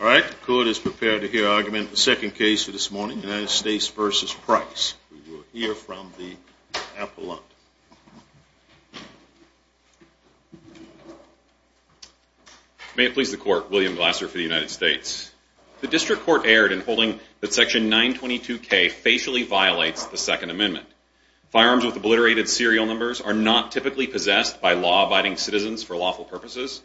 All right, the court is prepared to hear argument in the second case for this morning, United States v. Price. We will hear from the appellant. May it please the court, William Glasser for the United States. The district court erred in holding that Section 922K facially violates the Second Amendment. Firearms with obliterated serial numbers are not typically possessed by law-abiding citizens for lawful purposes,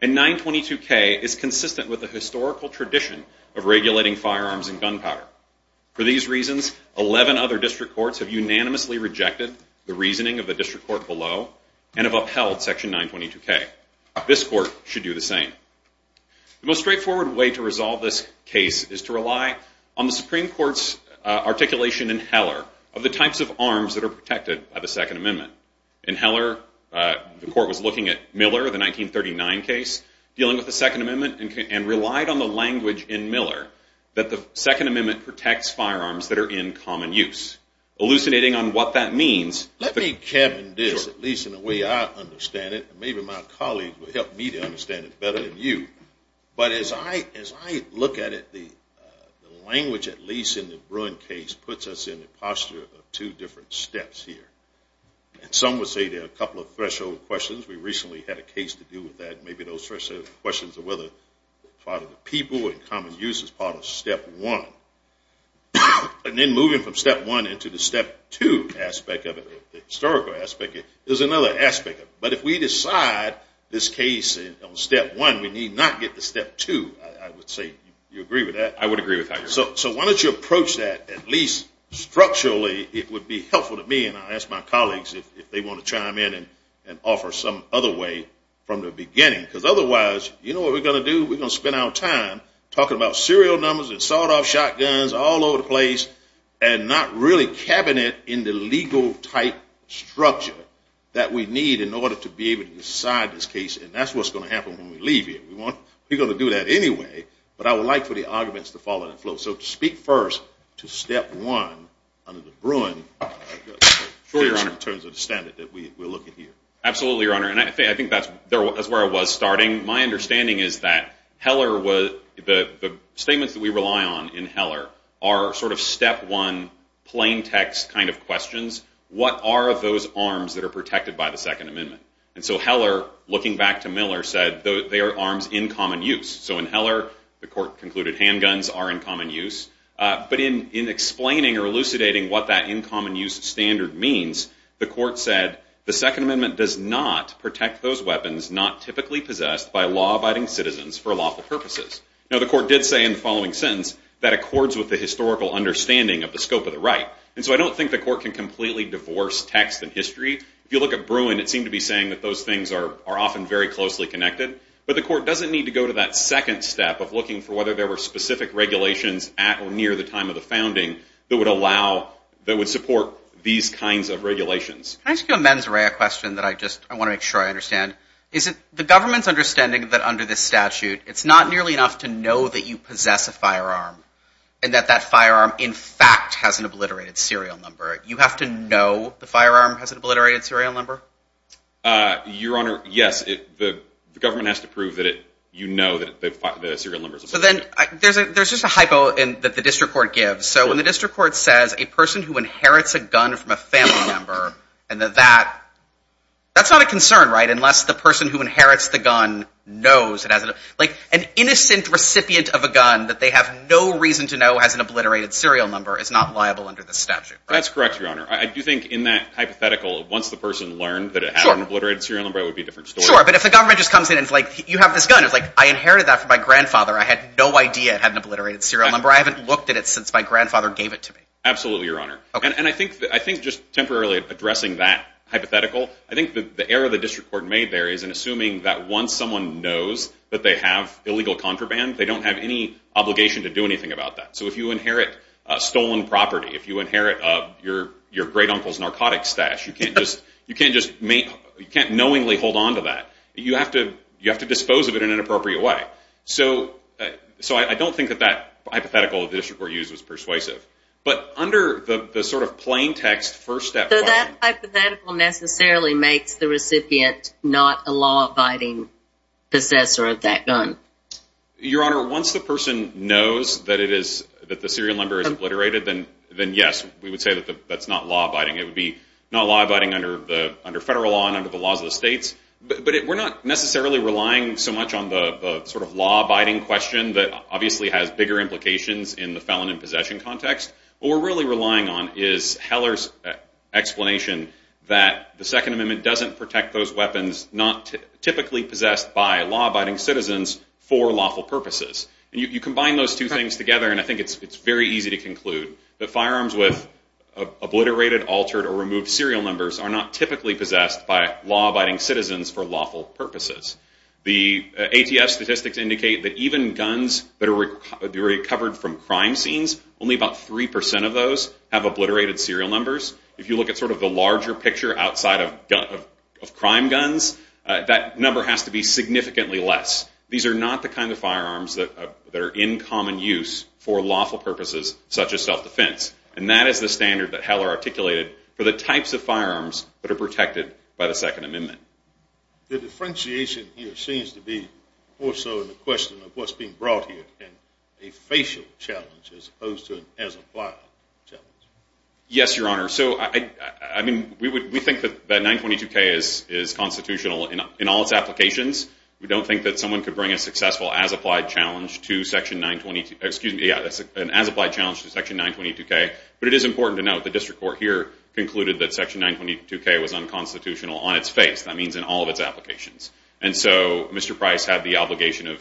and 922K is consistent with the historical tradition of regulating firearms and gunpowder. For these reasons, 11 other district courts have unanimously rejected the reasoning of the district court below and have upheld Section 922K. This court should do the same. The most straightforward way to resolve this case is to rely on the Supreme Court's articulation in Heller of the types of arms that are protected by the Second Amendment. In Heller, the court was looking at Miller, the 1939 case, dealing with the Second Amendment, and relied on the language in Miller that the Second Amendment protects firearms that are in common use. Hallucinating on what that means. Let me cabin this, at least in the way I understand it, and maybe my colleagues will help me to understand it better than you. But as I look at it, the language at least in the Bruin case puts us in the posture of two different steps here. Some would say there are a couple of threshold questions. We recently had a case to do with that. Maybe those threshold questions are whether part of the people and common use is part of Step 1. And then moving from Step 1 into the Step 2 historical aspect is another aspect. But if we decide this case on Step 1, we need not get to Step 2, I would say. Do you agree with that? I would agree with that. So why don't you approach that at least structurally? It would be helpful to me, and I'll ask my colleagues if they want to chime in and offer some other way from the beginning. Because otherwise, you know what we're going to do? We're going to spend our time talking about serial numbers and sawed-off shotguns all over the place and not really cabinet in the legal type structure that we need in order to be able to decide this case. And that's what's going to happen when we leave here. We're going to do that anyway, but I would like for the arguments to follow that flow. So to speak first to Step 1 under the Bruin case in terms of the standard that we're looking here. Absolutely, Your Honor. And I think that's where I was starting. My understanding is that the statements that we rely on in Heller are sort of Step 1 plain text kind of questions. What are those arms that are protected by the Second Amendment? And so Heller, looking back to Miller, said they are arms in common use. So in Heller, the court concluded handguns are in common use. But in explaining or elucidating what that in common use standard means, the court said, the Second Amendment does not protect those weapons not typically possessed by law-abiding citizens for lawful purposes. Now, the court did say in the following sentence, that accords with the historical understanding of the scope of the right. And so I don't think the court can completely divorce text and history. If you look at Bruin, it seemed to be saying that those things are often very closely connected. But the court doesn't need to go to that second step of looking for whether there were specific regulations at or near the time of the founding that would allow, that would support these kinds of regulations. Can I ask you a mens rea question that I just want to make sure I understand? Is it the government's understanding that under this statute, it's not nearly enough to know that you possess a firearm, and that that firearm, in fact, has an obliterated serial number? You have to know the firearm has an obliterated serial number? Your Honor, yes. The government has to prove that you know that the serial number is obliterated. So then there's just a hypo that the district court gives. So when the district court says a person who inherits a gun from a family member, and that that's not a concern, right, unless the person who inherits the gun knows it has a, like, an innocent recipient of a gun that they have no reason to know has an obliterated serial number is not liable under the statute, right? That's correct, Your Honor. I do think in that hypothetical, once the person learned that it had an obliterated serial number, it would be a different story. Sure, but if the government just comes in and is like, you have this gun. It's like, I inherited that from my grandfather. I had no idea it had an obliterated serial number. I haven't looked at it since my grandfather gave it to me. Absolutely, Your Honor. And I think just temporarily addressing that hypothetical, I think the error the district court made there is in assuming that once someone knows that they have illegal contraband, they don't have any obligation to do anything about that. So if you inherit stolen property, if you inherit your great uncle's narcotics stash, you can't just knowingly hold onto that. You have to dispose of it in an appropriate way. So I don't think that that hypothetical the district court used was persuasive. But under the sort of plain text first step... So that hypothetical necessarily makes the recipient not a law-abiding possessor of that gun? Your Honor, once the person knows that the serial number is obliterated, then yes, we would say that that's not law-abiding. It would be not law-abiding under federal law and under the laws of the states. But we're not necessarily relying so much on the sort of law-abiding question that obviously has bigger implications in the felon in possession context. What we're really relying on is Heller's explanation that the Second Amendment doesn't protect those weapons not typically possessed by law-abiding citizens for lawful purposes. And you combine those two things together, and I think it's very easy to conclude that firearms with obliterated, altered, or removed serial numbers are not typically possessed by law-abiding citizens for lawful purposes. The ATF statistics indicate that even guns that are recovered from crime scenes, only about 3% of those have obliterated serial numbers. If you look at sort of the larger picture outside of crime guns, that number has to be significantly less. These are not the kind of firearms that are in common use for lawful purposes such as self-defense. And that is the standard that Heller articulated for the types of firearms that are protected by the Second Amendment. The differentiation here seems to be more so in the question of what's being brought here in a facial challenge as opposed to an as-applied challenge. Yes, Your Honor. So, I mean, we think that 922K is constitutional in all its applications. We don't think that someone could bring a successful as-applied challenge to Section 922K. But it is important to note the district court here concluded that Section 922K was unconstitutional on its face. That means in all of its applications. And so Mr. Price had the obligation of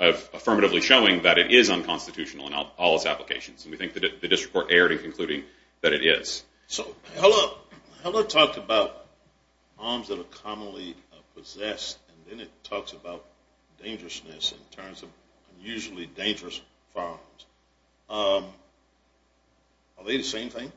affirmatively showing that it is unconstitutional in all its applications. And we think the district court erred in concluding that it is. So Heller talked about arms that are commonly possessed. And then it talks about dangerousness in terms of unusually dangerous firearms. Are they the same thing?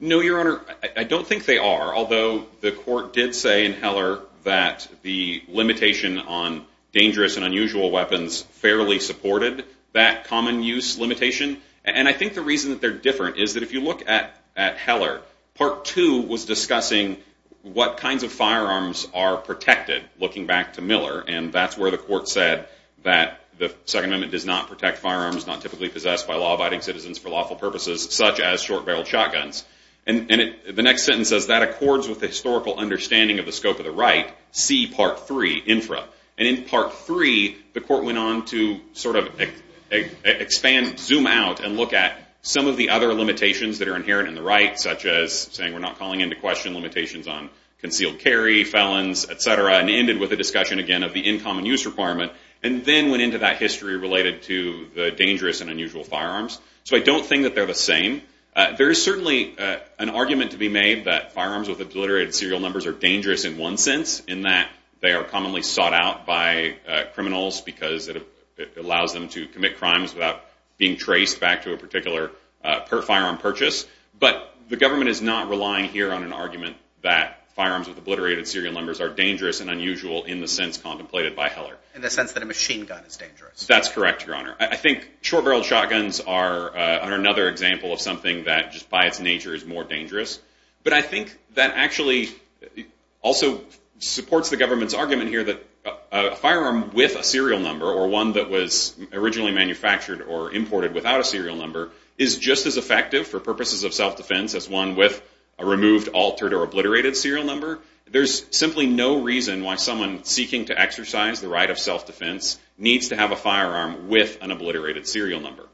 No, Your Honor. I don't think they are. Although the court did say in Heller that the limitation on dangerous and unusual weapons fairly supported that common use limitation. And I think the reason that they're different is that if you look at Heller, Part 2 was discussing what kinds of firearms are protected, looking back to Miller. And that's where the court said that the Second Amendment does not protect firearms not typically possessed by law-abiding citizens for lawful purposes, such as short-barreled shotguns. And the next sentence says, That accords with the historical understanding of the scope of the right. See Part 3, Infra. And in Part 3, the court went on to sort of expand, zoom out, and look at some of the other limitations that are inherent in the right, such as saying we're not calling into question limitations on concealed carry, felons, et cetera, and ended with a discussion, again, of the in common use requirement, and then went into that history related to the dangerous and unusual firearms. So I don't think that they're the same. There is certainly an argument to be made that firearms with obliterated serial numbers are dangerous in one sense, in that they are commonly sought out by criminals because it allows them to commit crimes without being traced back to a particular firearm purchase. But the government is not relying here on an argument that firearms with obliterated serial numbers are dangerous and unusual in the sense contemplated by Heller. In the sense that a machine gun is dangerous. That's correct, Your Honor. I think short-barreled shotguns are another example of something that just by its nature is more dangerous. But I think that actually also supports the government's argument here that a firearm with a serial number, or one that was originally manufactured or imported without a serial number, is just as effective for purposes of self-defense as one with a removed, altered, or obliterated serial number. There's simply no reason why someone seeking to exercise the right of self-defense needs to have a firearm with an obliterated serial number.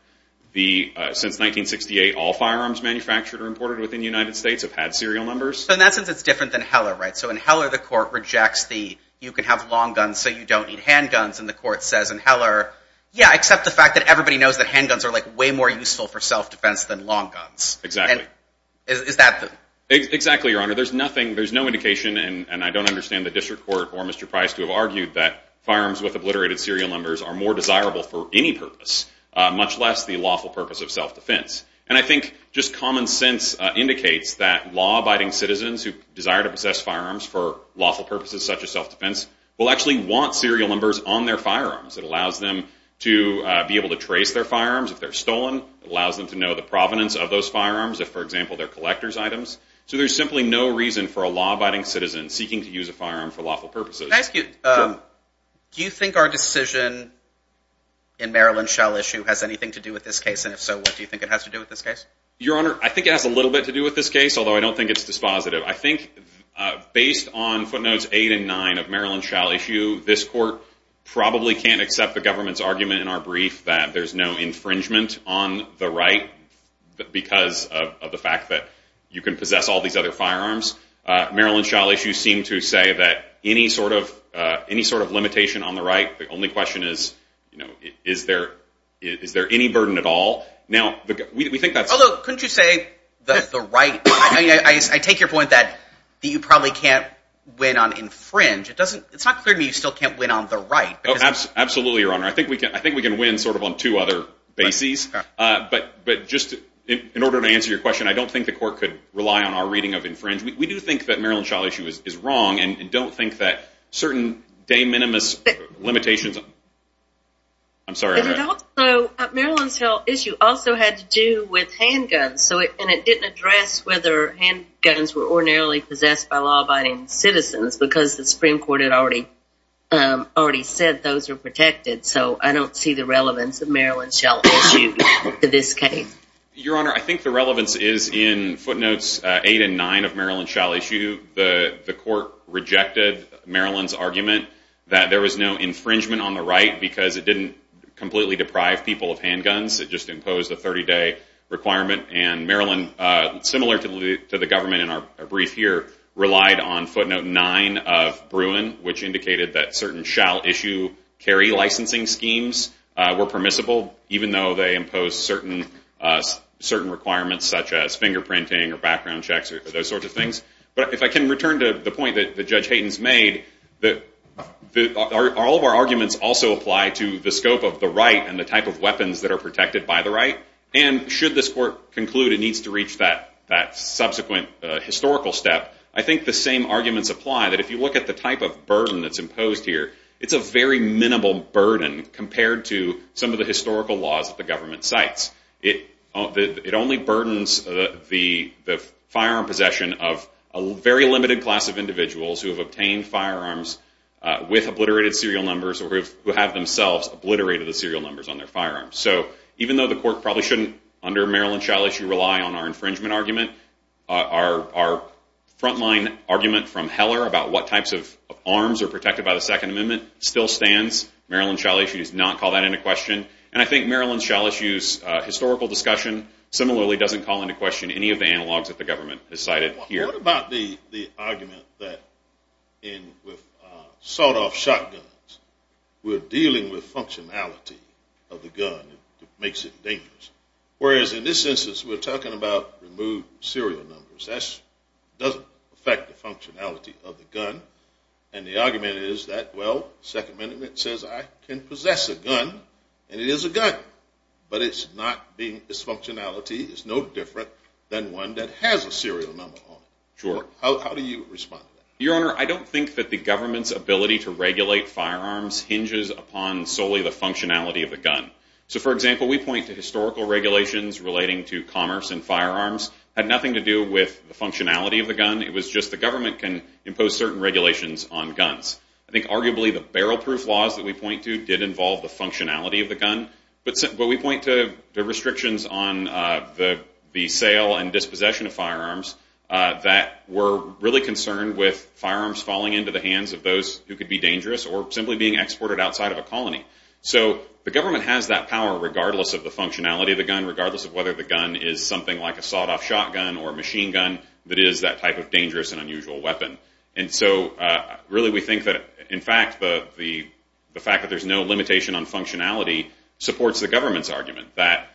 Since 1968, all firearms manufactured or imported within the United States have had serial numbers. So in that sense, it's different than Heller, right? So in Heller, the court rejects the, you can have long guns so you don't need handguns. And the court says in Heller, yeah, except the fact that everybody knows that handguns are way more useful for self-defense than long guns. Exactly. Is that the... Exactly, Your Honor. There's no indication, and I don't understand the district court or Mr. Price to have argued that firearms with obliterated serial numbers are more desirable for any purpose, much less the lawful purpose of self-defense. And I think just common sense indicates that law-abiding citizens who desire to possess firearms for lawful purposes such as self-defense will actually want serial numbers on their firearms. It allows them to be able to trace their firearms if they're stolen. It allows them to know the provenance of those firearms if, for example, they're collector's items. So there's simply no reason for a law-abiding citizen seeking to use a firearm for lawful purposes. Can I ask you, do you think our decision in Maryland shall issue has anything to do with this case? And if so, what do you think it has to do with this case? Your Honor, I think it has a little bit to do with this case, although I don't think it's dispositive. I think based on footnotes 8 and 9 of Maryland shall issue, this court probably can't accept the government's argument in our brief that there's no infringement on the right because of the fact that you can possess all these other firearms. Maryland shall issue seemed to say that any sort of limitation on the right, the only question is, you know, is there any burden at all? Now, we think that's... Although, couldn't you say that the right... I take your point that you probably can't win on infringe. It's not clear to me you still can't win on the right. Absolutely, Your Honor. I think we can win sort of on two other bases. But just in order to answer your question, I don't think the court could rely on our reading of infringe. We do think that Maryland shall issue is wrong and don't think that certain de minimis limitations... I'm sorry. Maryland shall issue also had to do with handguns, and it didn't address whether handguns were ordinarily possessed by law-abiding citizens because the Supreme Court had already said those are protected, so I don't see the relevance of Maryland shall issue to this case. Your Honor, I think the relevance is in footnotes 8 and 9 of Maryland shall issue. The court rejected Maryland's argument that there was no infringement on the right because it didn't completely deprive people of handguns. It just imposed a 30-day requirement, and Maryland, similar to the government in our brief here, relied on footnote 9 of Bruin, which indicated that certain shall issue carry licensing schemes were permissible, even though they imposed certain requirements such as fingerprinting or background checks or those sorts of things. But if I can return to the point that Judge Hayden's made, all of our arguments also apply to the scope of the right and the type of weapons that are protected by the right, and should this court conclude it needs to reach that subsequent historical step, I think the same arguments apply that if you look at the type of burden that's imposed here, it's a very minimal burden compared to some of the historical laws that the government cites. It only burdens the firearm possession of a very limited class of individuals who have obtained firearms with obliterated serial numbers or who have themselves obliterated the serial numbers on their firearms. So even though the court probably shouldn't, under Maryland shall issue, rely on our infringement argument, our frontline argument from Heller about what types of arms are protected by the Second Amendment still stands. Maryland shall issue does not call that into question. And I think Maryland shall issue's historical discussion similarly doesn't call into question any of the analogs that the government has cited here. What about the argument that with sawed-off shotguns, we're dealing with functionality of the gun that makes it dangerous, whereas in this instance we're talking about removed serial numbers. That doesn't affect the functionality of the gun. And the argument is that, well, Second Amendment says I can possess a gun, and it is a gun. But its functionality is no different than one that has a serial number on it. Sure. How do you respond to that? Your Honor, I don't think that the government's ability to regulate firearms hinges upon solely the functionality of the gun. So for example, we point to historical regulations relating to commerce and firearms had nothing to do with the functionality of the gun. It was just the government can impose certain regulations on guns. I think arguably the barrel-proof laws that we point to did involve the functionality of the gun. But we point to the restrictions on the sale and dispossession of firearms that were really concerned with firearms falling into the hands of those who could be dangerous or simply being exported outside of a colony. regardless of whether the gun is something like a sawed-off shotgun or a machine gun that is that type of dangerous and unusual weapon. And so really we think that, in fact, the fact that there's no limitation on functionality supports the government's argument that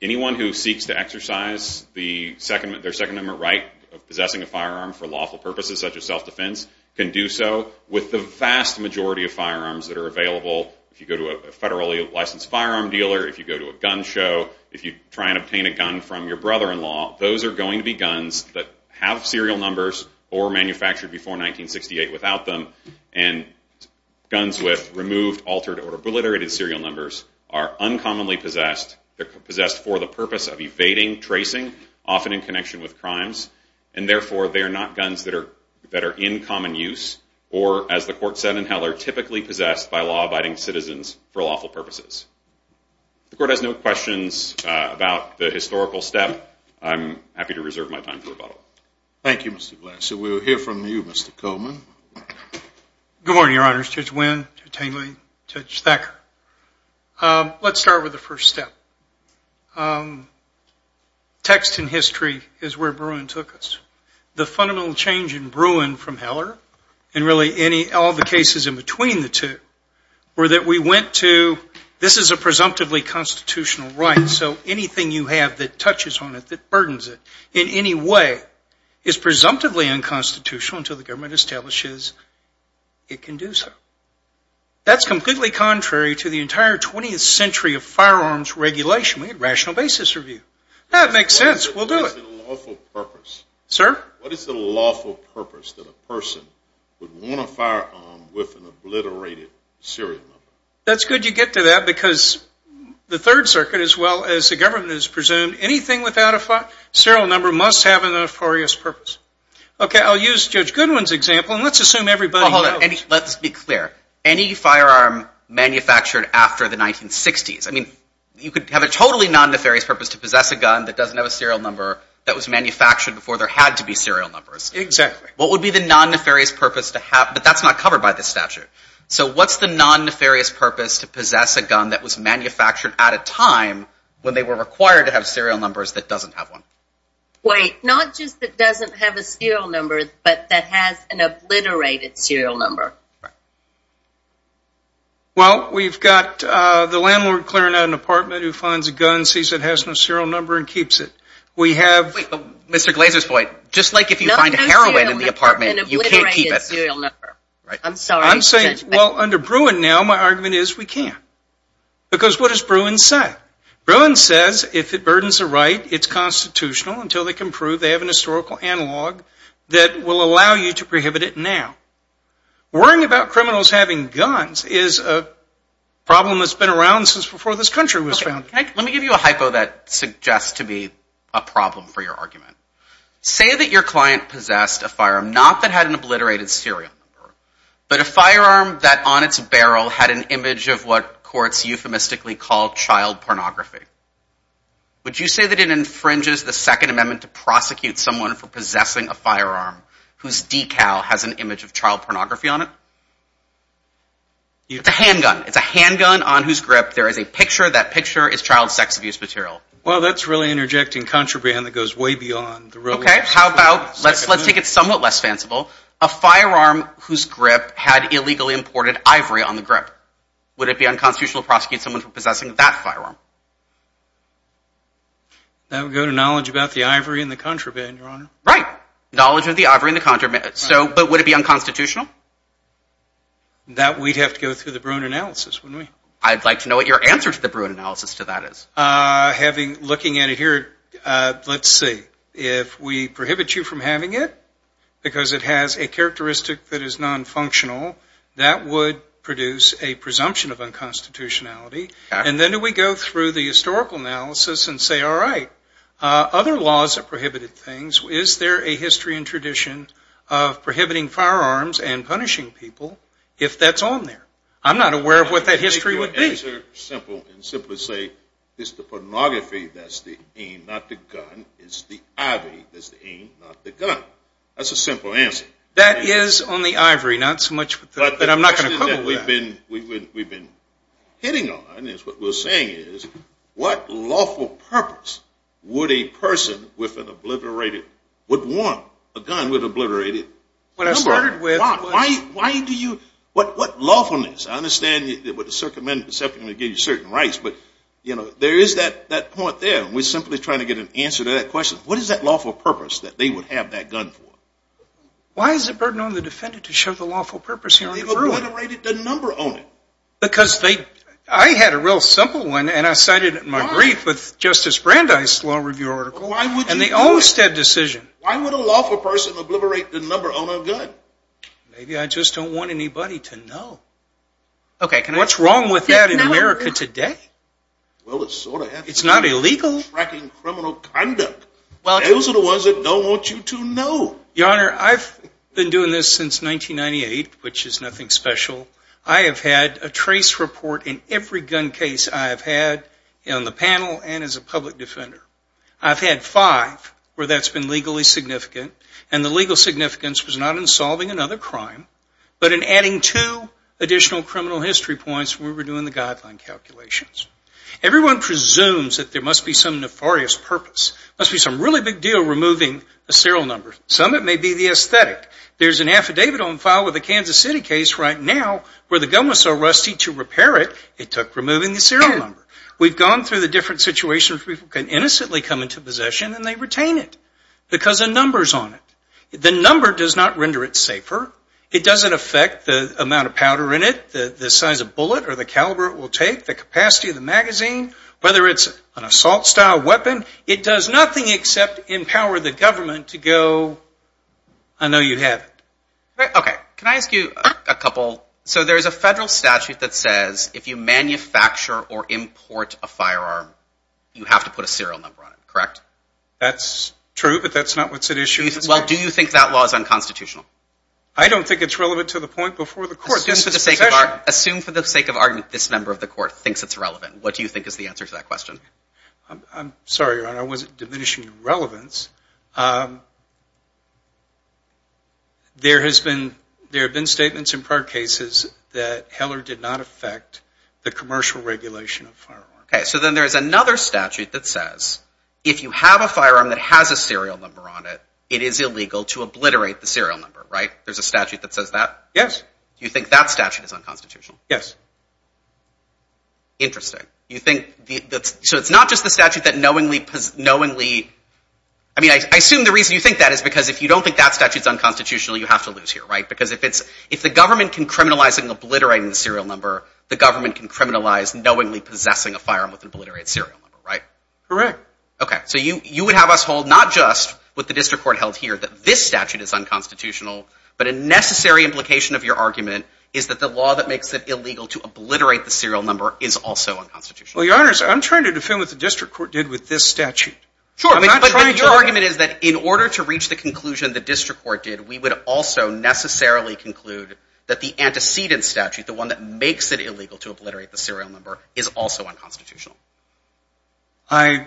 anyone who seeks to exercise their Second Amendment right of possessing a firearm for lawful purposes such as self-defense can do so with the vast majority of firearms that are available. If you go to a federally licensed firearm dealer, if you go to a gun show, if you try and obtain a gun from your brother-in-law, those are going to be guns that have serial numbers or were manufactured before 1968 without them. And guns with removed, altered, or obliterated serial numbers are uncommonly possessed. They're possessed for the purpose of evading, tracing, often in connection with crimes. And therefore they are not guns that are in common use or, as the court said in Heller, are typically possessed by law-abiding citizens for lawful purposes. If the court has no questions about the historical step, I'm happy to reserve my time for rebuttal. Thank you, Mr. Black. So we'll hear from you, Mr. Coleman. Good morning, Your Honors. Judge Wynn, Judge Tingley, Judge Thacker. Let's start with the first step. Text and history is where Bruin took us. The fundamental change in Bruin from Heller and really all the cases in between the two were that we went to this is a presumptively constitutional right, so anything you have that touches on it, that burdens it in any way, is presumptively unconstitutional until the government establishes it can do so. That's completely contrary to the entire 20th century of firearms regulation. We had rational basis review. That makes sense. We'll do it. What is the lawful purpose? Sir? What is the lawful purpose that a person would want a firearm with an obliterated serial number? That's good you get to that because the Third Circuit, as well as the government, has presumed anything without a serial number must have a nefarious purpose. Okay, I'll use Judge Goodwin's example, and let's assume everybody knows. Let's be clear. Any firearm manufactured after the 1960s, I mean, you could have a totally non-nefarious purpose to possess a gun that doesn't have a serial number that was manufactured before there had to be serial numbers. Exactly. What would be the non-nefarious purpose to have? But that's not covered by this statute. So what's the non-nefarious purpose to possess a gun that was manufactured at a time when they were required to have serial numbers that doesn't have one? Wait, not just that doesn't have a serial number, but that has an obliterated serial number. Well, we've got the landlord clearing out an apartment who finds a gun, sees it has no serial number, and keeps it. Wait, but Mr. Glazer's point, just like if you find heroin in the apartment, you can't keep it. I'm sorry. I'm saying, well, under Bruin now, my argument is we can't. Because what does Bruin say? Bruin says if it burdens a right, it's constitutional until they can prove they have an historical analog that will allow you to prohibit it now. Worrying about criminals having guns is a problem that's been around since before this country was founded. Let me give you a hypo that suggests to be a problem for your argument. Say that your client possessed a firearm, not that had an obliterated serial number, but a firearm that on its barrel had an image of what courts euphemistically call child pornography. Would you say that it infringes the Second Amendment to prosecute someone for possessing a firearm whose decal has an image of child pornography on it? It's a handgun. It's a handgun on whose grip there is a picture. That picture is child sex abuse material. Well, that's really interjecting contraband that goes way beyond the role of the Second Amendment. Okay, how about, let's take it somewhat less fanciful. A firearm whose grip had illegally imported ivory on the grip. Would it be unconstitutional to prosecute someone for possessing that firearm? That would go to knowledge about the ivory in the contraband, Your Honor. Right, knowledge of the ivory in the contraband. But would it be unconstitutional? That we'd have to go through the Bruin analysis, wouldn't we? I'd like to know what your answer to the Bruin analysis to that is. Looking at it here, let's see. If we prohibit you from having it because it has a characteristic that is nonfunctional, that would produce a presumption of unconstitutionality. And then do we go through the historical analysis and say, all right, other laws have prohibited things. Is there a history and tradition of prohibiting firearms and punishing people if that's on there? I'm not aware of what that history would be. I'll give you a simple answer and simply say it's the pornography that's the aim, not the gun. It's the ivory that's the aim, not the gun. That's a simple answer. That is on the ivory, not so much that I'm not going to couple that. We've been hitting on this. What we're saying is what lawful purpose would a person with an obliterated, would want a gun with an obliterated number? Why do you – what lawfulness? I understand with the circumvention, it gives you certain rights. But, you know, there is that point there. And we're simply trying to get an answer to that question. What is that lawful purpose that they would have that gun for? Why is it a burden on the defendant to show the lawful purpose? They've obliterated the number on it. Because they – I had a real simple one, and I cited it in my brief with Justice Brandeis' law review article. Why would you do that? And the Olmstead decision. Why would a lawful person obliterate the number on a gun? Maybe I just don't want anybody to know. Okay, can I – What's wrong with that in America today? Well, it's sort of – It's not illegal. Tracking criminal conduct. Those are the ones that don't want you to know. Your Honor, I've been doing this since 1998, which is nothing special. I have had a trace report in every gun case I have had on the panel and as a public defender. I've had five where that's been legally significant. And the legal significance was not in solving another crime, but in adding two additional criminal history points where we're doing the guideline calculations. Everyone presumes that there must be some nefarious purpose, must be some really big deal removing a serial number. Some, it may be the aesthetic. There's an affidavit on file with a Kansas City case right now where the gun was so rusty to repair it, it took removing the serial number. We've gone through the different situations. People can innocently come into possession and they retain it because the number's on it. The number does not render it safer. It doesn't affect the amount of powder in it, the size of bullet or the caliber it will take, the capacity of the magazine. Whether it's an assault-style weapon, it does nothing except empower the government to go, I know you have it. Okay, can I ask you a couple? So there's a federal statute that says if you manufacture or import a firearm, you have to put a serial number on it, correct? That's true, but that's not what's at issue. Well, do you think that law is unconstitutional? I don't think it's relevant to the point before the court. Assume for the sake of argument this member of the court thinks it's relevant. What do you think is the answer to that question? I'm sorry, Your Honor, I wasn't diminishing your relevance. There have been statements in prior cases that Heller did not affect the commercial regulation of firearms. Okay, so then there's another statute that says if you have a firearm that has a serial number on it, it is illegal to obliterate the serial number, right? There's a statute that says that? Yes. You think that statute is unconstitutional? Yes. Interesting. So it's not just the statute that knowingly – I mean, I assume the reason you think that is because if you don't think that statute is unconstitutional, you have to lose here, right? Because if the government can criminalize obliterating the serial number, the government can criminalize knowingly possessing a firearm with an obliterated serial number, right? Correct. Okay, so you would have us hold not just what the district court held here, that this statute is unconstitutional, but a necessary implication of your argument is that the law that makes it illegal to obliterate the serial number is also unconstitutional. Well, Your Honor, I'm trying to defend what the district court did with this statute. Sure, but your argument is that in order to reach the conclusion the district court did, we would also necessarily conclude that the antecedent statute, the one that makes it illegal to obliterate the serial number, is also unconstitutional. I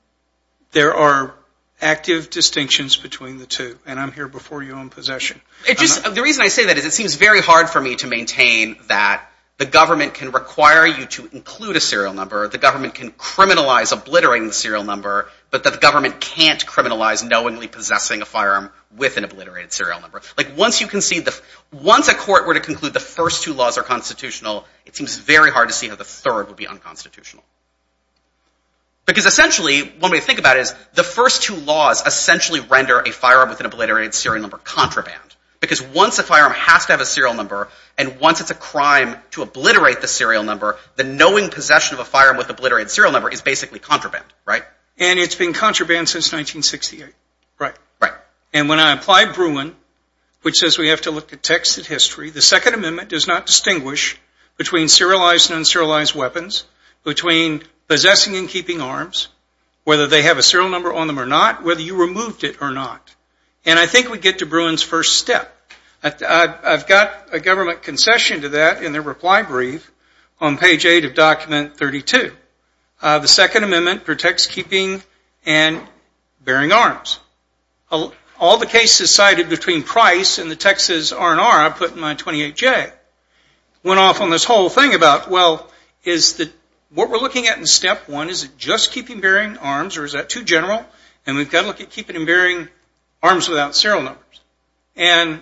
– there are active distinctions between the two, and I'm here before you on possession. It just – the reason I say that is it seems very hard for me to maintain that the government can require you to include a serial number, the government can criminalize obliterating the serial number, but that the government can't criminalize knowingly possessing a firearm with an obliterated serial number. Like once you can see the – once a court were to conclude the first two laws are constitutional, it seems very hard to see how the third would be unconstitutional. Because essentially, when we think about it, the first two laws essentially render a firearm with an obliterated serial number contraband. Because once a firearm has to have a serial number, and once it's a crime to obliterate the serial number, the knowing possession of a firearm with an obliterated serial number is basically contraband, right? And it's been contraband since 1968. Right. Right. And when I apply Bruin, which says we have to look at text and history, the Second Amendment does not distinguish between serialized and unserialized weapons, between possessing and keeping arms, whether they have a serial number on them or not, whether you removed it or not. And I think we get to Bruin's first step. I've got a government concession to that in the reply brief on page 8 of document 32. The Second Amendment protects keeping and bearing arms. All the cases cited between Price and the Texas R&R I put in my 28-J went off on this whole thing about, well, what we're looking at in step one is just keeping and bearing arms, or is that too general? And we've got to look at keeping and bearing arms without serial numbers. And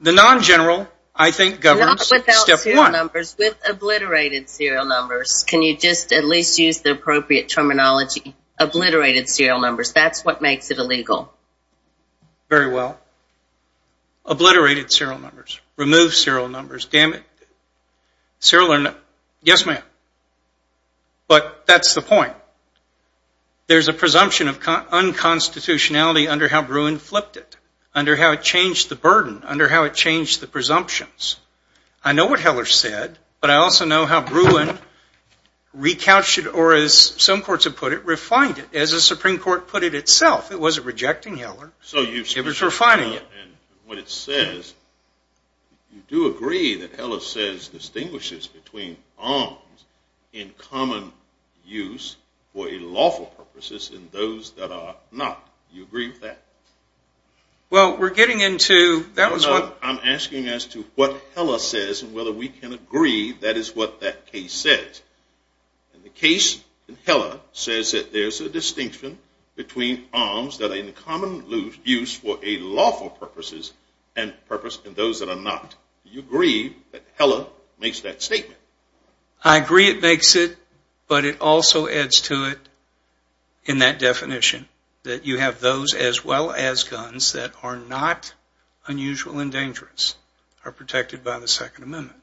the non-general, I think, governs step one. Not without serial numbers. With obliterated serial numbers. Can you just at least use the appropriate terminology? Obliterated serial numbers. That's what makes it illegal. Very well. Obliterated serial numbers. Removed serial numbers. Dammit. Yes, ma'am. But that's the point. There's a presumption of unconstitutionality under how Bruin flipped it, under how it changed the burden, under how it changed the presumptions. I know what Heller said, but I also know how Bruin recouched it or, as some courts have put it, refined it. As the Supreme Court put it itself, it wasn't rejecting Heller. It was refining it. And what it says, you do agree that Heller says, distinguishes between arms in common use for illawful purposes and those that are not. Do you agree with that? Well, we're getting into that. I'm asking as to what Heller says and whether we can agree that is what that case says. And the case in Heller says that there's a distinction between arms that are in common use for illawful purposes and those that are not. Do you agree that Heller makes that statement? I agree it makes it, but it also adds to it in that definition that you have those as well as guns that are not unusual and dangerous are protected by the Second Amendment.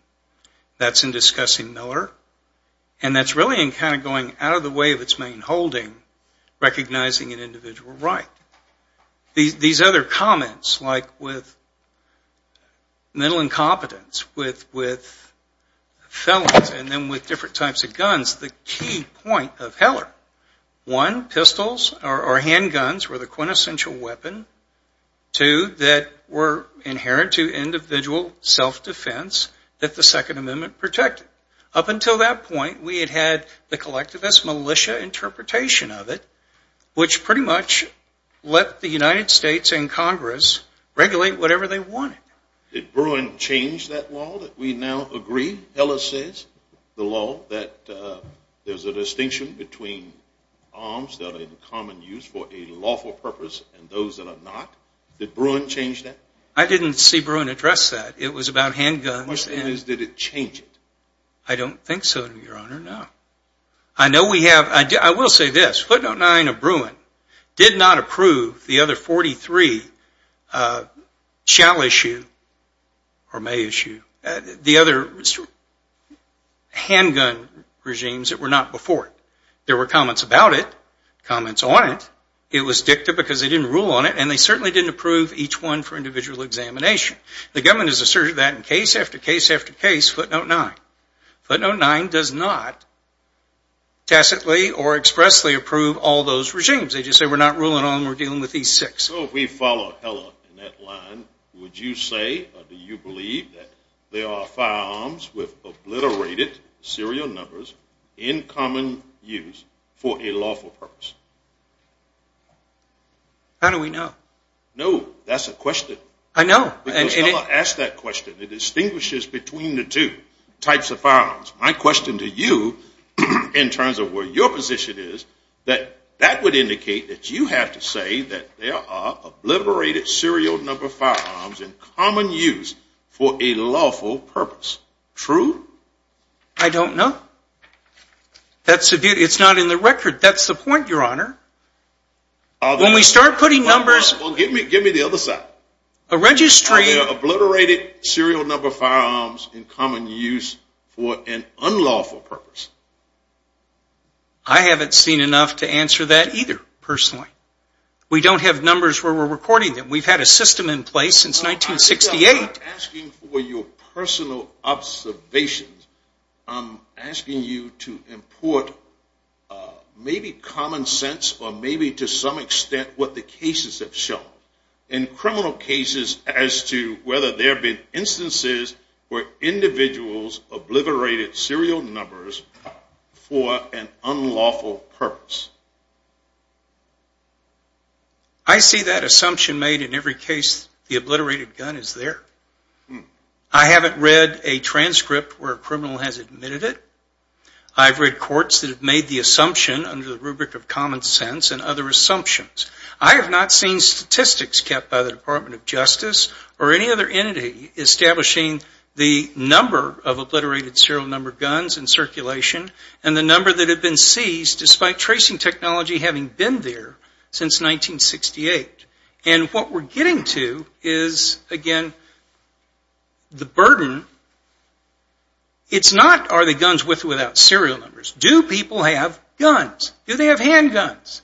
That's in discussing Miller. And that's really in kind of going out of the way of its main holding, recognizing an individual right. These other comments, like with mental incompetence, with felons, and then with different types of guns, the key point of Heller, one, pistols or handguns were the quintessential weapon. Two, that were inherent to individual self-defense that the Second Amendment protected. Up until that point, we had had the collectivist militia interpretation of it, which pretty much let the United States and Congress regulate whatever they wanted. Did Bruin change that law that we now agree Heller says, the law that there's a distinction between arms that are in common use for a lawful purpose and those that are not? Did Bruin change that? I didn't see Bruin address that. It was about handguns. My question is, did it change it? I don't think so, Your Honor, no. I will say this. Footnote 9 of Bruin did not approve the other 43 shall issue or may issue, the other handgun regimes that were not before it. There were comments about it, comments on it. It was dicta because they didn't rule on it, and they certainly didn't approve each one for individual examination. The government has asserted that in case after case after case, footnote 9. Footnote 9 does not tacitly or expressly approve all those regimes. They just say we're not ruling on them, we're dealing with these six. So if we follow Heller in that line, would you say or do you believe that there are firearms with obliterated serial numbers in common use for a lawful purpose? How do we know? No, that's a question. I know. Because Heller asked that question. It distinguishes between the two types of firearms. My question to you in terms of where your position is, that that would indicate that you have to say that there are obliterated serial number firearms in common use for a lawful purpose. True? I don't know. It's not in the record. That's the point, Your Honor. Well, give me the other side. Are there obliterated serial number firearms in common use for an unlawful purpose? I haven't seen enough to answer that either, personally. We don't have numbers where we're recording them. We've had a system in place since 1968. I'm not asking for your personal observations. I'm asking you to import maybe common sense or maybe to some extent what the cases have shown. In criminal cases as to whether there have been instances where individuals obliterated serial numbers for an unlawful purpose. I see that assumption made in every case the obliterated gun is there. I haven't read a transcript where a criminal has admitted it. I've read courts that have made the assumption under the rubric of common sense and other assumptions. I have not seen statistics kept by the Department of Justice or any other entity establishing the number of obliterated serial number guns in circulation and the number that have been seized despite tracing technology having been there since 1968. What we're getting to is, again, the burden. It's not are the guns with or without serial numbers. Do people have guns? Do they have handguns?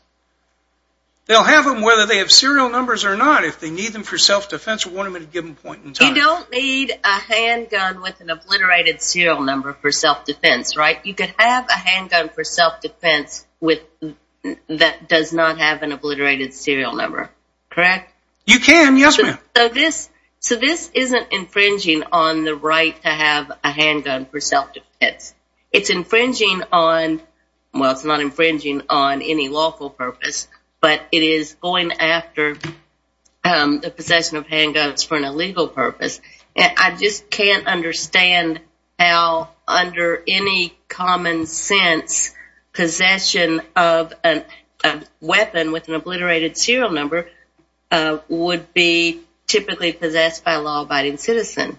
They'll have them whether they have serial numbers or not. If they need them for self-defense, we'll want them at a given point in time. You don't need a handgun with an obliterated serial number for self-defense, right? You could have a handgun for self-defense that does not have an obliterated serial number, correct? You can, yes, ma'am. So this isn't infringing on the right to have a handgun for self-defense. It's infringing on, well, it's not infringing on any lawful purpose, but it is going after the possession of handguns for an illegal purpose. I just can't understand how, under any common sense, possession of a weapon with an obliterated serial number would be typically possessed by a law-abiding citizen.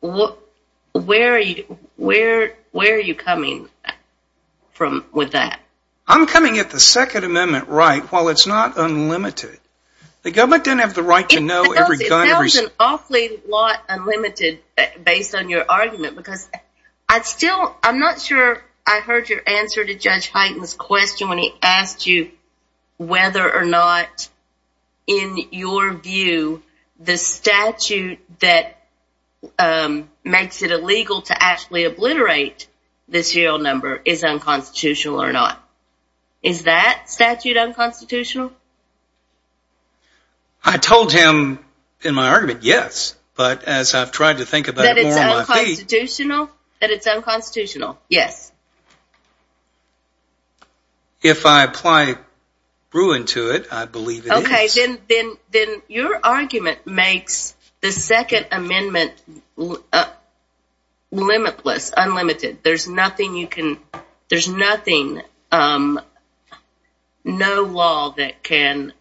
Where are you coming with that? I'm coming at the Second Amendment right, while it's not unlimited. The government doesn't have the right to know every gun. It sounds an awfully lot unlimited, based on your argument, because I'm not sure I heard your answer to Judge Hyten's question when he asked you whether or not, in your view, the statute that makes it illegal to actually obliterate the serial number is unconstitutional or not. Is that statute unconstitutional? I told him in my argument, yes. But as I've tried to think about it more on my feet... That it's unconstitutional? That it's unconstitutional, yes. If I apply ruin to it, I believe it is. Okay, then your argument makes the Second Amendment limitless, unlimited. There's nothing, no law that can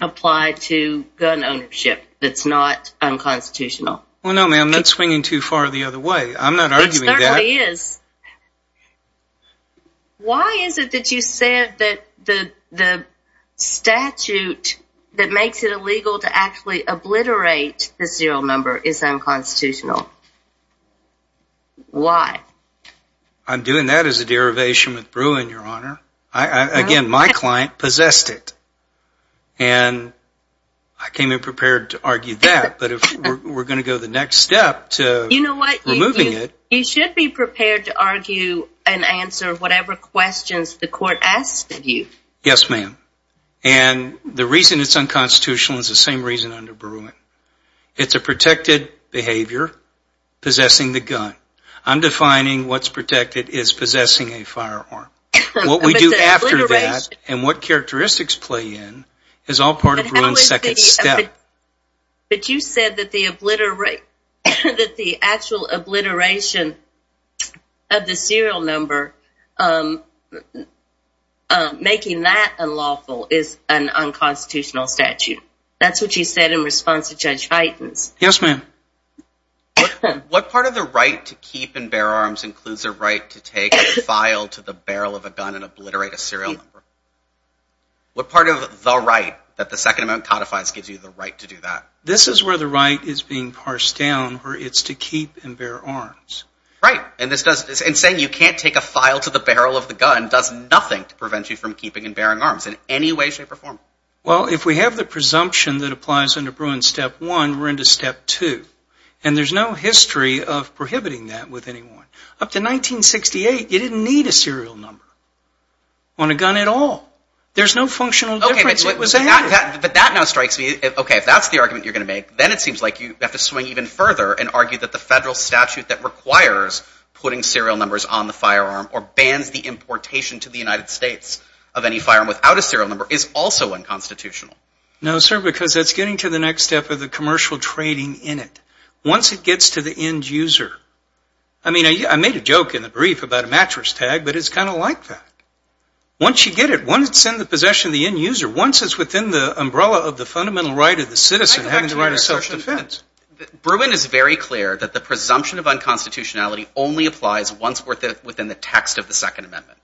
apply to gun ownership that's not unconstitutional. Well, no, ma'am, that's swinging too far the other way. I'm not arguing that. It certainly is. Why is it that you said that the statute that makes it illegal to actually obliterate the serial number is unconstitutional? Why? I'm doing that as a derivation with Bruin, Your Honor. Again, my client possessed it. And I came in prepared to argue that. But if we're going to go the next step to removing it... You know what? You should be prepared to argue and answer whatever questions the court asks of you. Yes, ma'am. And the reason it's unconstitutional is the same reason under Bruin. It's a protected behavior, possessing the gun. I'm defining what's protected as possessing a firearm. What we do after that and what characteristics play in is all part of Bruin's second step. But you said that the actual obliteration of the serial number, making that unlawful, is an unconstitutional statute. That's what you said in response to Judge Heitens. Yes, ma'am. What part of the right to keep and bear arms includes the right to take a file to the barrel of a gun and obliterate a serial number? What part of the right that the Second Amendment codifies gives you the right to do that? This is where the right is being parsed down, where it's to keep and bear arms. Right. And saying you can't take a file to the barrel of the gun does nothing to prevent you from keeping and bearing arms in any way, shape, or form. Well, if we have the presumption that applies under Bruin's step one, we're into step two. And there's no history of prohibiting that with anyone. Up to 1968, you didn't need a serial number on a gun at all. There's no functional difference. Okay, but that now strikes me. Okay, if that's the argument you're going to make, then it seems like you have to swing even further and argue that the federal statute that requires putting serial numbers on the firearm or bans the importation to the United States of any firearm without a serial number is also unconstitutional. No, sir, because that's getting to the next step of the commercial trading in it. Once it gets to the end user. I mean, I made a joke in the brief about a mattress tag, but it's kind of like that. Once you get it, once it's in the possession of the end user, once it's within the umbrella of the fundamental right of the citizen having the right of social defense. Bruin is very clear that the presumption of unconstitutionality only applies once within the text of the Second Amendment.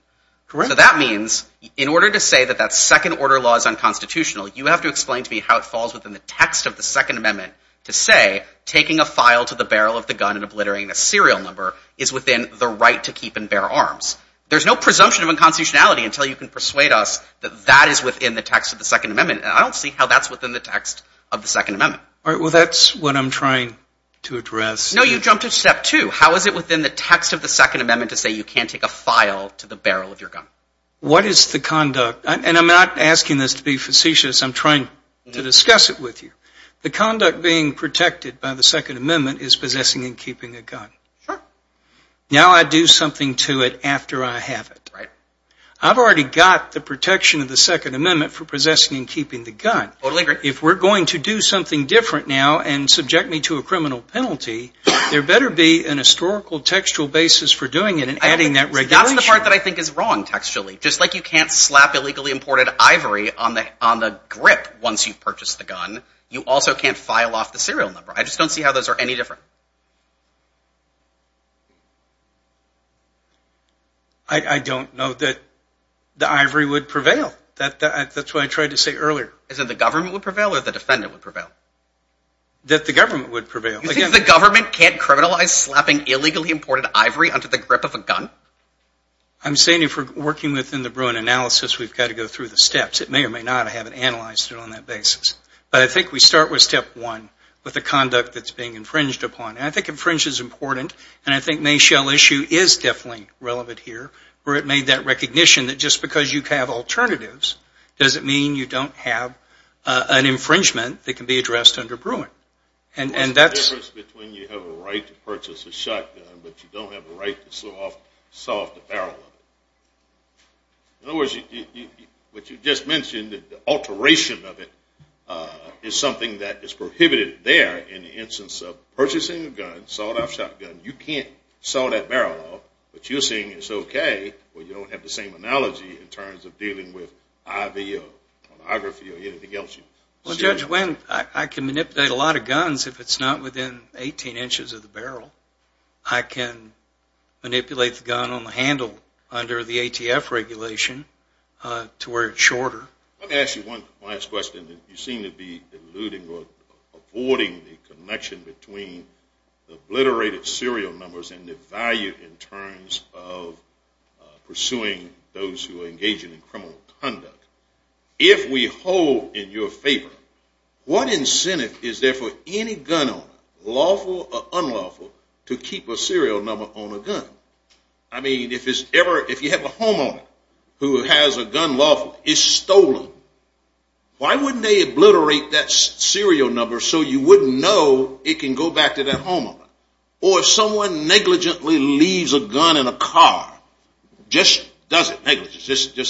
Correct. So that means in order to say that that second order law is unconstitutional, you have to explain to me how it falls within the text of the Second Amendment to say taking a file to the barrel of the gun and obliterating a serial number is within the right to keep and bear arms. There's no presumption of unconstitutionality until you can persuade us that that is within the text of the Second Amendment, and I don't see how that's within the text of the Second Amendment. All right, well, that's what I'm trying to address. No, you jumped to step two. How is it within the text of the Second Amendment to say you can't take a file to the barrel of your gun? What is the conduct? And I'm not asking this to be facetious. I'm trying to discuss it with you. The conduct being protected by the Second Amendment is possessing and keeping a gun. Now I do something to it after I have it. I've already got the protection of the Second Amendment for possessing and keeping the gun. If we're going to do something different now and subject me to a criminal penalty, there better be an historical textual basis for doing it and adding that regulation. That's the part that I think is wrong textually. Just like you can't slap illegally imported ivory on the grip once you've purchased the gun, you also can't file off the serial number. I just don't see how those are any different. I don't know that the ivory would prevail. That's what I tried to say earlier. Is it the government would prevail or the defendant would prevail? That the government would prevail. You think the government can't criminalize slapping illegally imported ivory onto the grip of a gun? I'm saying if we're working within the Bruin analysis, we've got to go through the steps. It may or may not. I haven't analyzed it on that basis. But I think we start with step one, with the conduct that's being infringed upon. And I think infringe is important, and I think Mayshell issue is definitely relevant here, where it made that recognition that just because you have alternatives doesn't mean you don't have an infringement that can be addressed under Bruin. And that's... There's a difference between you have a right to purchase a shotgun but you don't have a right to saw off the barrel of it. In other words, what you just mentioned, the alteration of it, is something that is prohibited there in the instance of purchasing a gun, sawed-off shotgun, you can't saw that barrel off, but you're saying it's okay when you don't have the same analogy in terms of dealing with IV or pornography or anything else. Well, Judge Wendt, I can manipulate a lot of guns if it's not within 18 inches of the barrel. I can manipulate the gun on the handle under the ATF regulation to where it's shorter. Let me ask you one last question. You seem to be eluding or avoiding the connection between obliterated serial numbers and the value in terms of pursuing those who are engaging in criminal conduct. If we hold in your favor, what incentive is there for any gun owner, lawful or unlawful, to keep a serial number on a gun? I mean, if you have a homeowner who has a gun lawfully stolen, why wouldn't they obliterate that serial number so you wouldn't know it can go back to that homeowner? Or if someone negligently leaves a gun in a car, just does it negligently,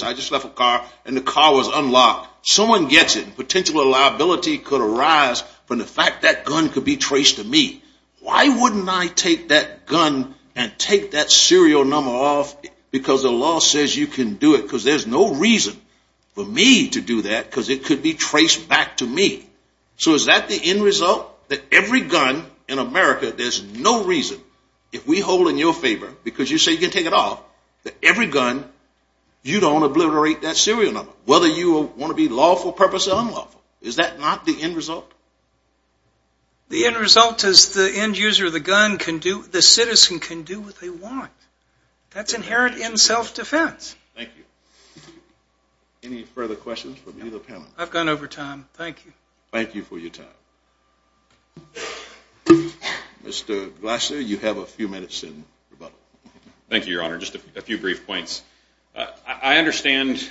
I just left a car and the car was unlocked, someone gets it and potential liability could arise from the fact that gun could be traced to me. Why wouldn't I take that gun and take that serial number off because the law says you can do it? Because there's no reason for me to do that because it could be traced back to me. So is that the end result? That every gun in America, there's no reason, if we hold in your favor, because you say you can take it off, that every gun, you don't obliterate that serial number, whether you want to be lawful purpose or unlawful. Is that not the end result? The end result is the end user of the gun can do, the citizen can do what they want. That's inherent in self-defense. Thank you. Any further questions from either panel? I've gone over time. Thank you. Thank you for your time. Mr. Glasser, you have a few minutes in rebuttal. Thank you, Your Honor. Just a few brief points. I understand,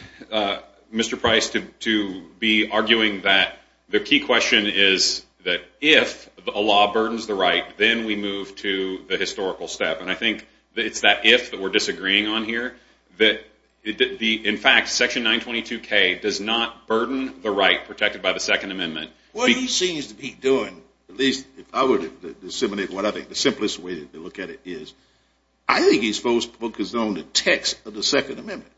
Mr. Price, to be arguing that the key question is that if a law burdens the right, then we move to the historical step. I think it's that if that we're disagreeing on here. In fact, Section 922K does not burden the right protected by the Second Amendment. What he seems to be doing, at least if I were to disseminate what I think the simplest way to look at it is, I think he's focused on the text of the Second Amendment.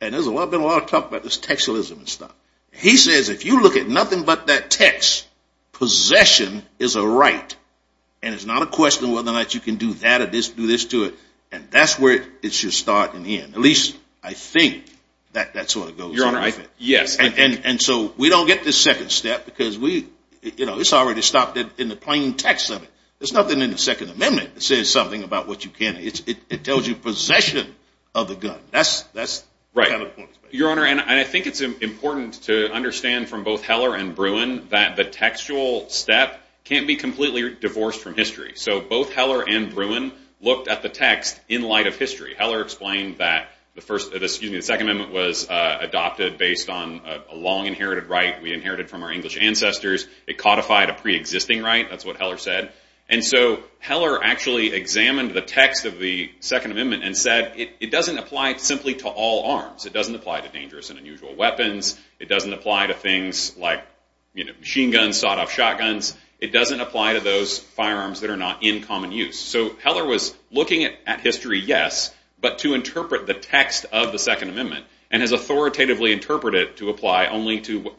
There's been a lot of talk about this textualism and stuff. He says if you look at nothing but that text, possession is a right. And it's not a question whether or not you can do that or do this to it. And that's where it should start in the end. At least I think that's where it goes. And so we don't get this second step because it's already stopped in the plain text of it. There's nothing in the Second Amendment that says something about what you can. It tells you possession of the gun. That's kind of the point. Your Honor, and I think it's important to understand from both Heller and Bruin that the textual step can't be completely divorced from history. So both Heller and Bruin looked at the text in light of history. Heller explained that the Second Amendment was adopted based on a long inherited right we inherited from our English ancestors. It codified a pre-existing right. That's what Heller said. And so Heller actually examined the text of the Second Amendment and said it doesn't apply simply to all arms. It doesn't apply to dangerous and unusual weapons. It doesn't apply to things like machine guns, sawed off shotguns. It doesn't apply to those firearms that are not in common use. So Heller was looking at history, yes, but to interpret the text of the Second Amendment and has authoritatively interpreted it to apply only to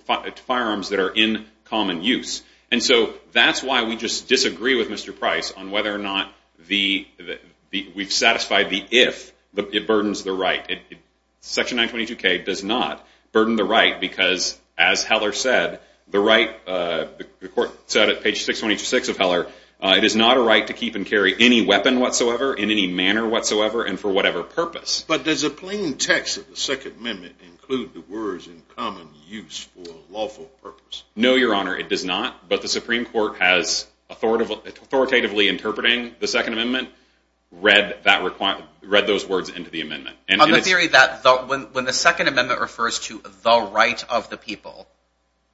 firearms that are in common use. And so that's why we just disagree with Mr. Price on whether or not we've satisfied the if it burdens the right. Section 922K does not burden the right because, as Heller said, the right the court said at page 626 of Heller it is not a right to keep and carry any weapon whatsoever in any manner whatsoever and for whatever purpose. But does a plain text of the Second Amendment include the words in common use for a lawful purpose? No, Your Honor, it does not. But the Supreme Court has authoritatively interpreting the Second Amendment read those words into the amendment. On the theory that when the Second Amendment refers to the right of the people,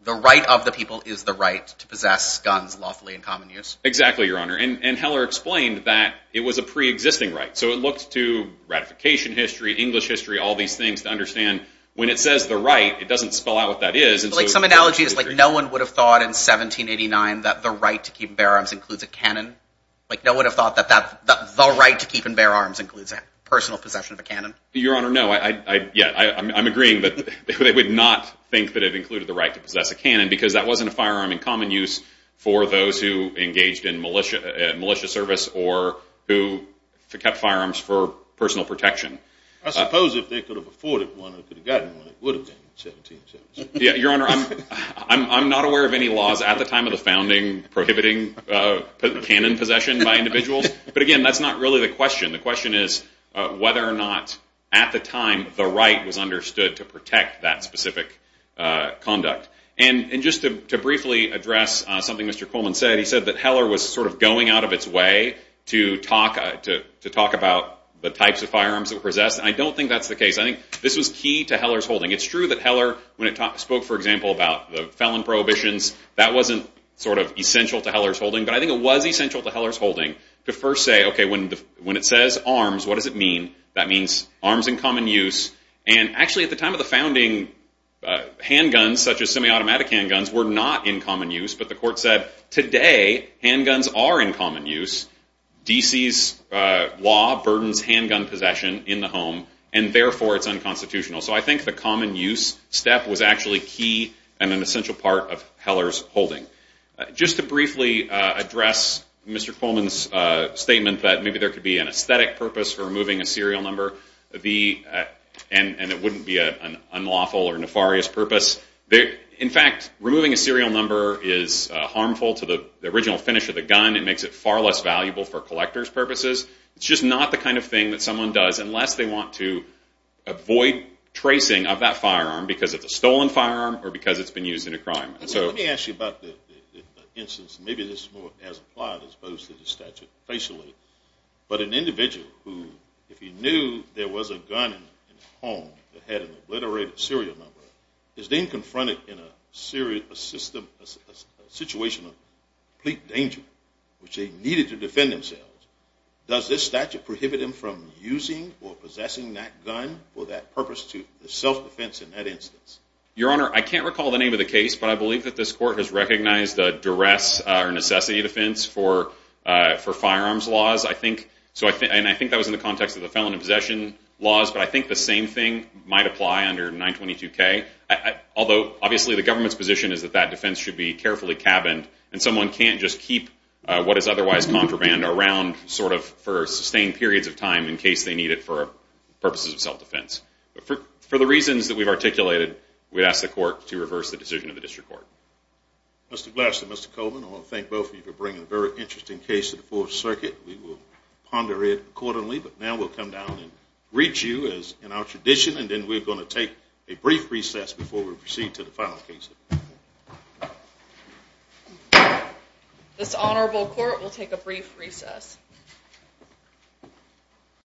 the right of the people is the right to possess guns lawfully in common use? Exactly, Your Honor. And Heller explained that it was a pre-existing right. So it looked to ratification history, English history, all these things to understand when it says the right, it doesn't spell out what that is. Some analogy is like no one would have thought in 1789 that the right to keep and bear arms includes personal possession of a cannon. Your Honor, no. I'm agreeing that they would not think that it included the right to possess a cannon because that wasn't a firearm in common use for those who engaged in militia service or who kept firearms for personal protection. I suppose if they could have afforded one or could have gotten one, it would have been in 1787. Your Honor, I'm not aware of any laws at the time of the founding prohibiting cannon possession by individuals. But again, that's not really the question. The question is whether or not at the time the right was understood to protect that specific conduct. And just to briefly address something Mr. Coleman said, he said that Heller was sort of going out of its way to talk about the types of firearms it possessed. I don't think that's the case. I think this was key to Heller's holding. It's true that Heller when it spoke, for example, about the felon prohibitions, that wasn't sort of essential to Heller's holding. But I think it was essential to Heller's holding to first say, okay, when it says arms, what does it mean? That means arms in common use. And actually at the time of the founding, handguns such as semi-automatic handguns were not in common use. But the court said today handguns are in common use. D.C.'s law burdens handgun possession in the home and therefore it's unconstitutional. So I think the common use step was actually key and an essential part of Heller's holding. Just to briefly address Mr. Coleman's statement that maybe there could be an aesthetic purpose for removing a serial number. And it wouldn't be an unlawful or nefarious purpose. In fact, removing a serial number is harmful to the original finish of the gun. It makes it far less valuable for collector's purposes. It's just not the kind of thing that someone does unless they want to avoid tracing of that firearm because it's a stolen firearm or because it's been used in a crime. Let me ask you about the instance, maybe this is more as applied as opposed to the statute facially, but an individual who if he knew there was a gun in the home that had an obliterated serial number is then confronted in a situation of complete danger which they needed to defend themselves. Does this statute prohibit him from using or possessing that gun for that purpose to self-defense in that instance? Your Honor, I can't recall the name of the case, but I believe that this court has recognized a duress or necessity defense for firearms laws. I think that was in the context of the felon in possession laws, but I think the same thing might apply under 922K. Obviously the government's position is that that defense should be carefully cabined and someone can't just keep what is otherwise contraband around for sustained periods of time in case they need it for purposes of self-defense. For the reasons that we've articulated, we'd ask the court to reverse the decision of the district court. Mr. Glass and Mr. Coleman, I want to thank both of you for bringing a very interesting case to the Fourth Circuit. We will ponder it accordingly, but now we'll come down and greet you as in our tradition and then we're going to take a brief recess before we proceed to the final case. This honorable court will take a brief recess.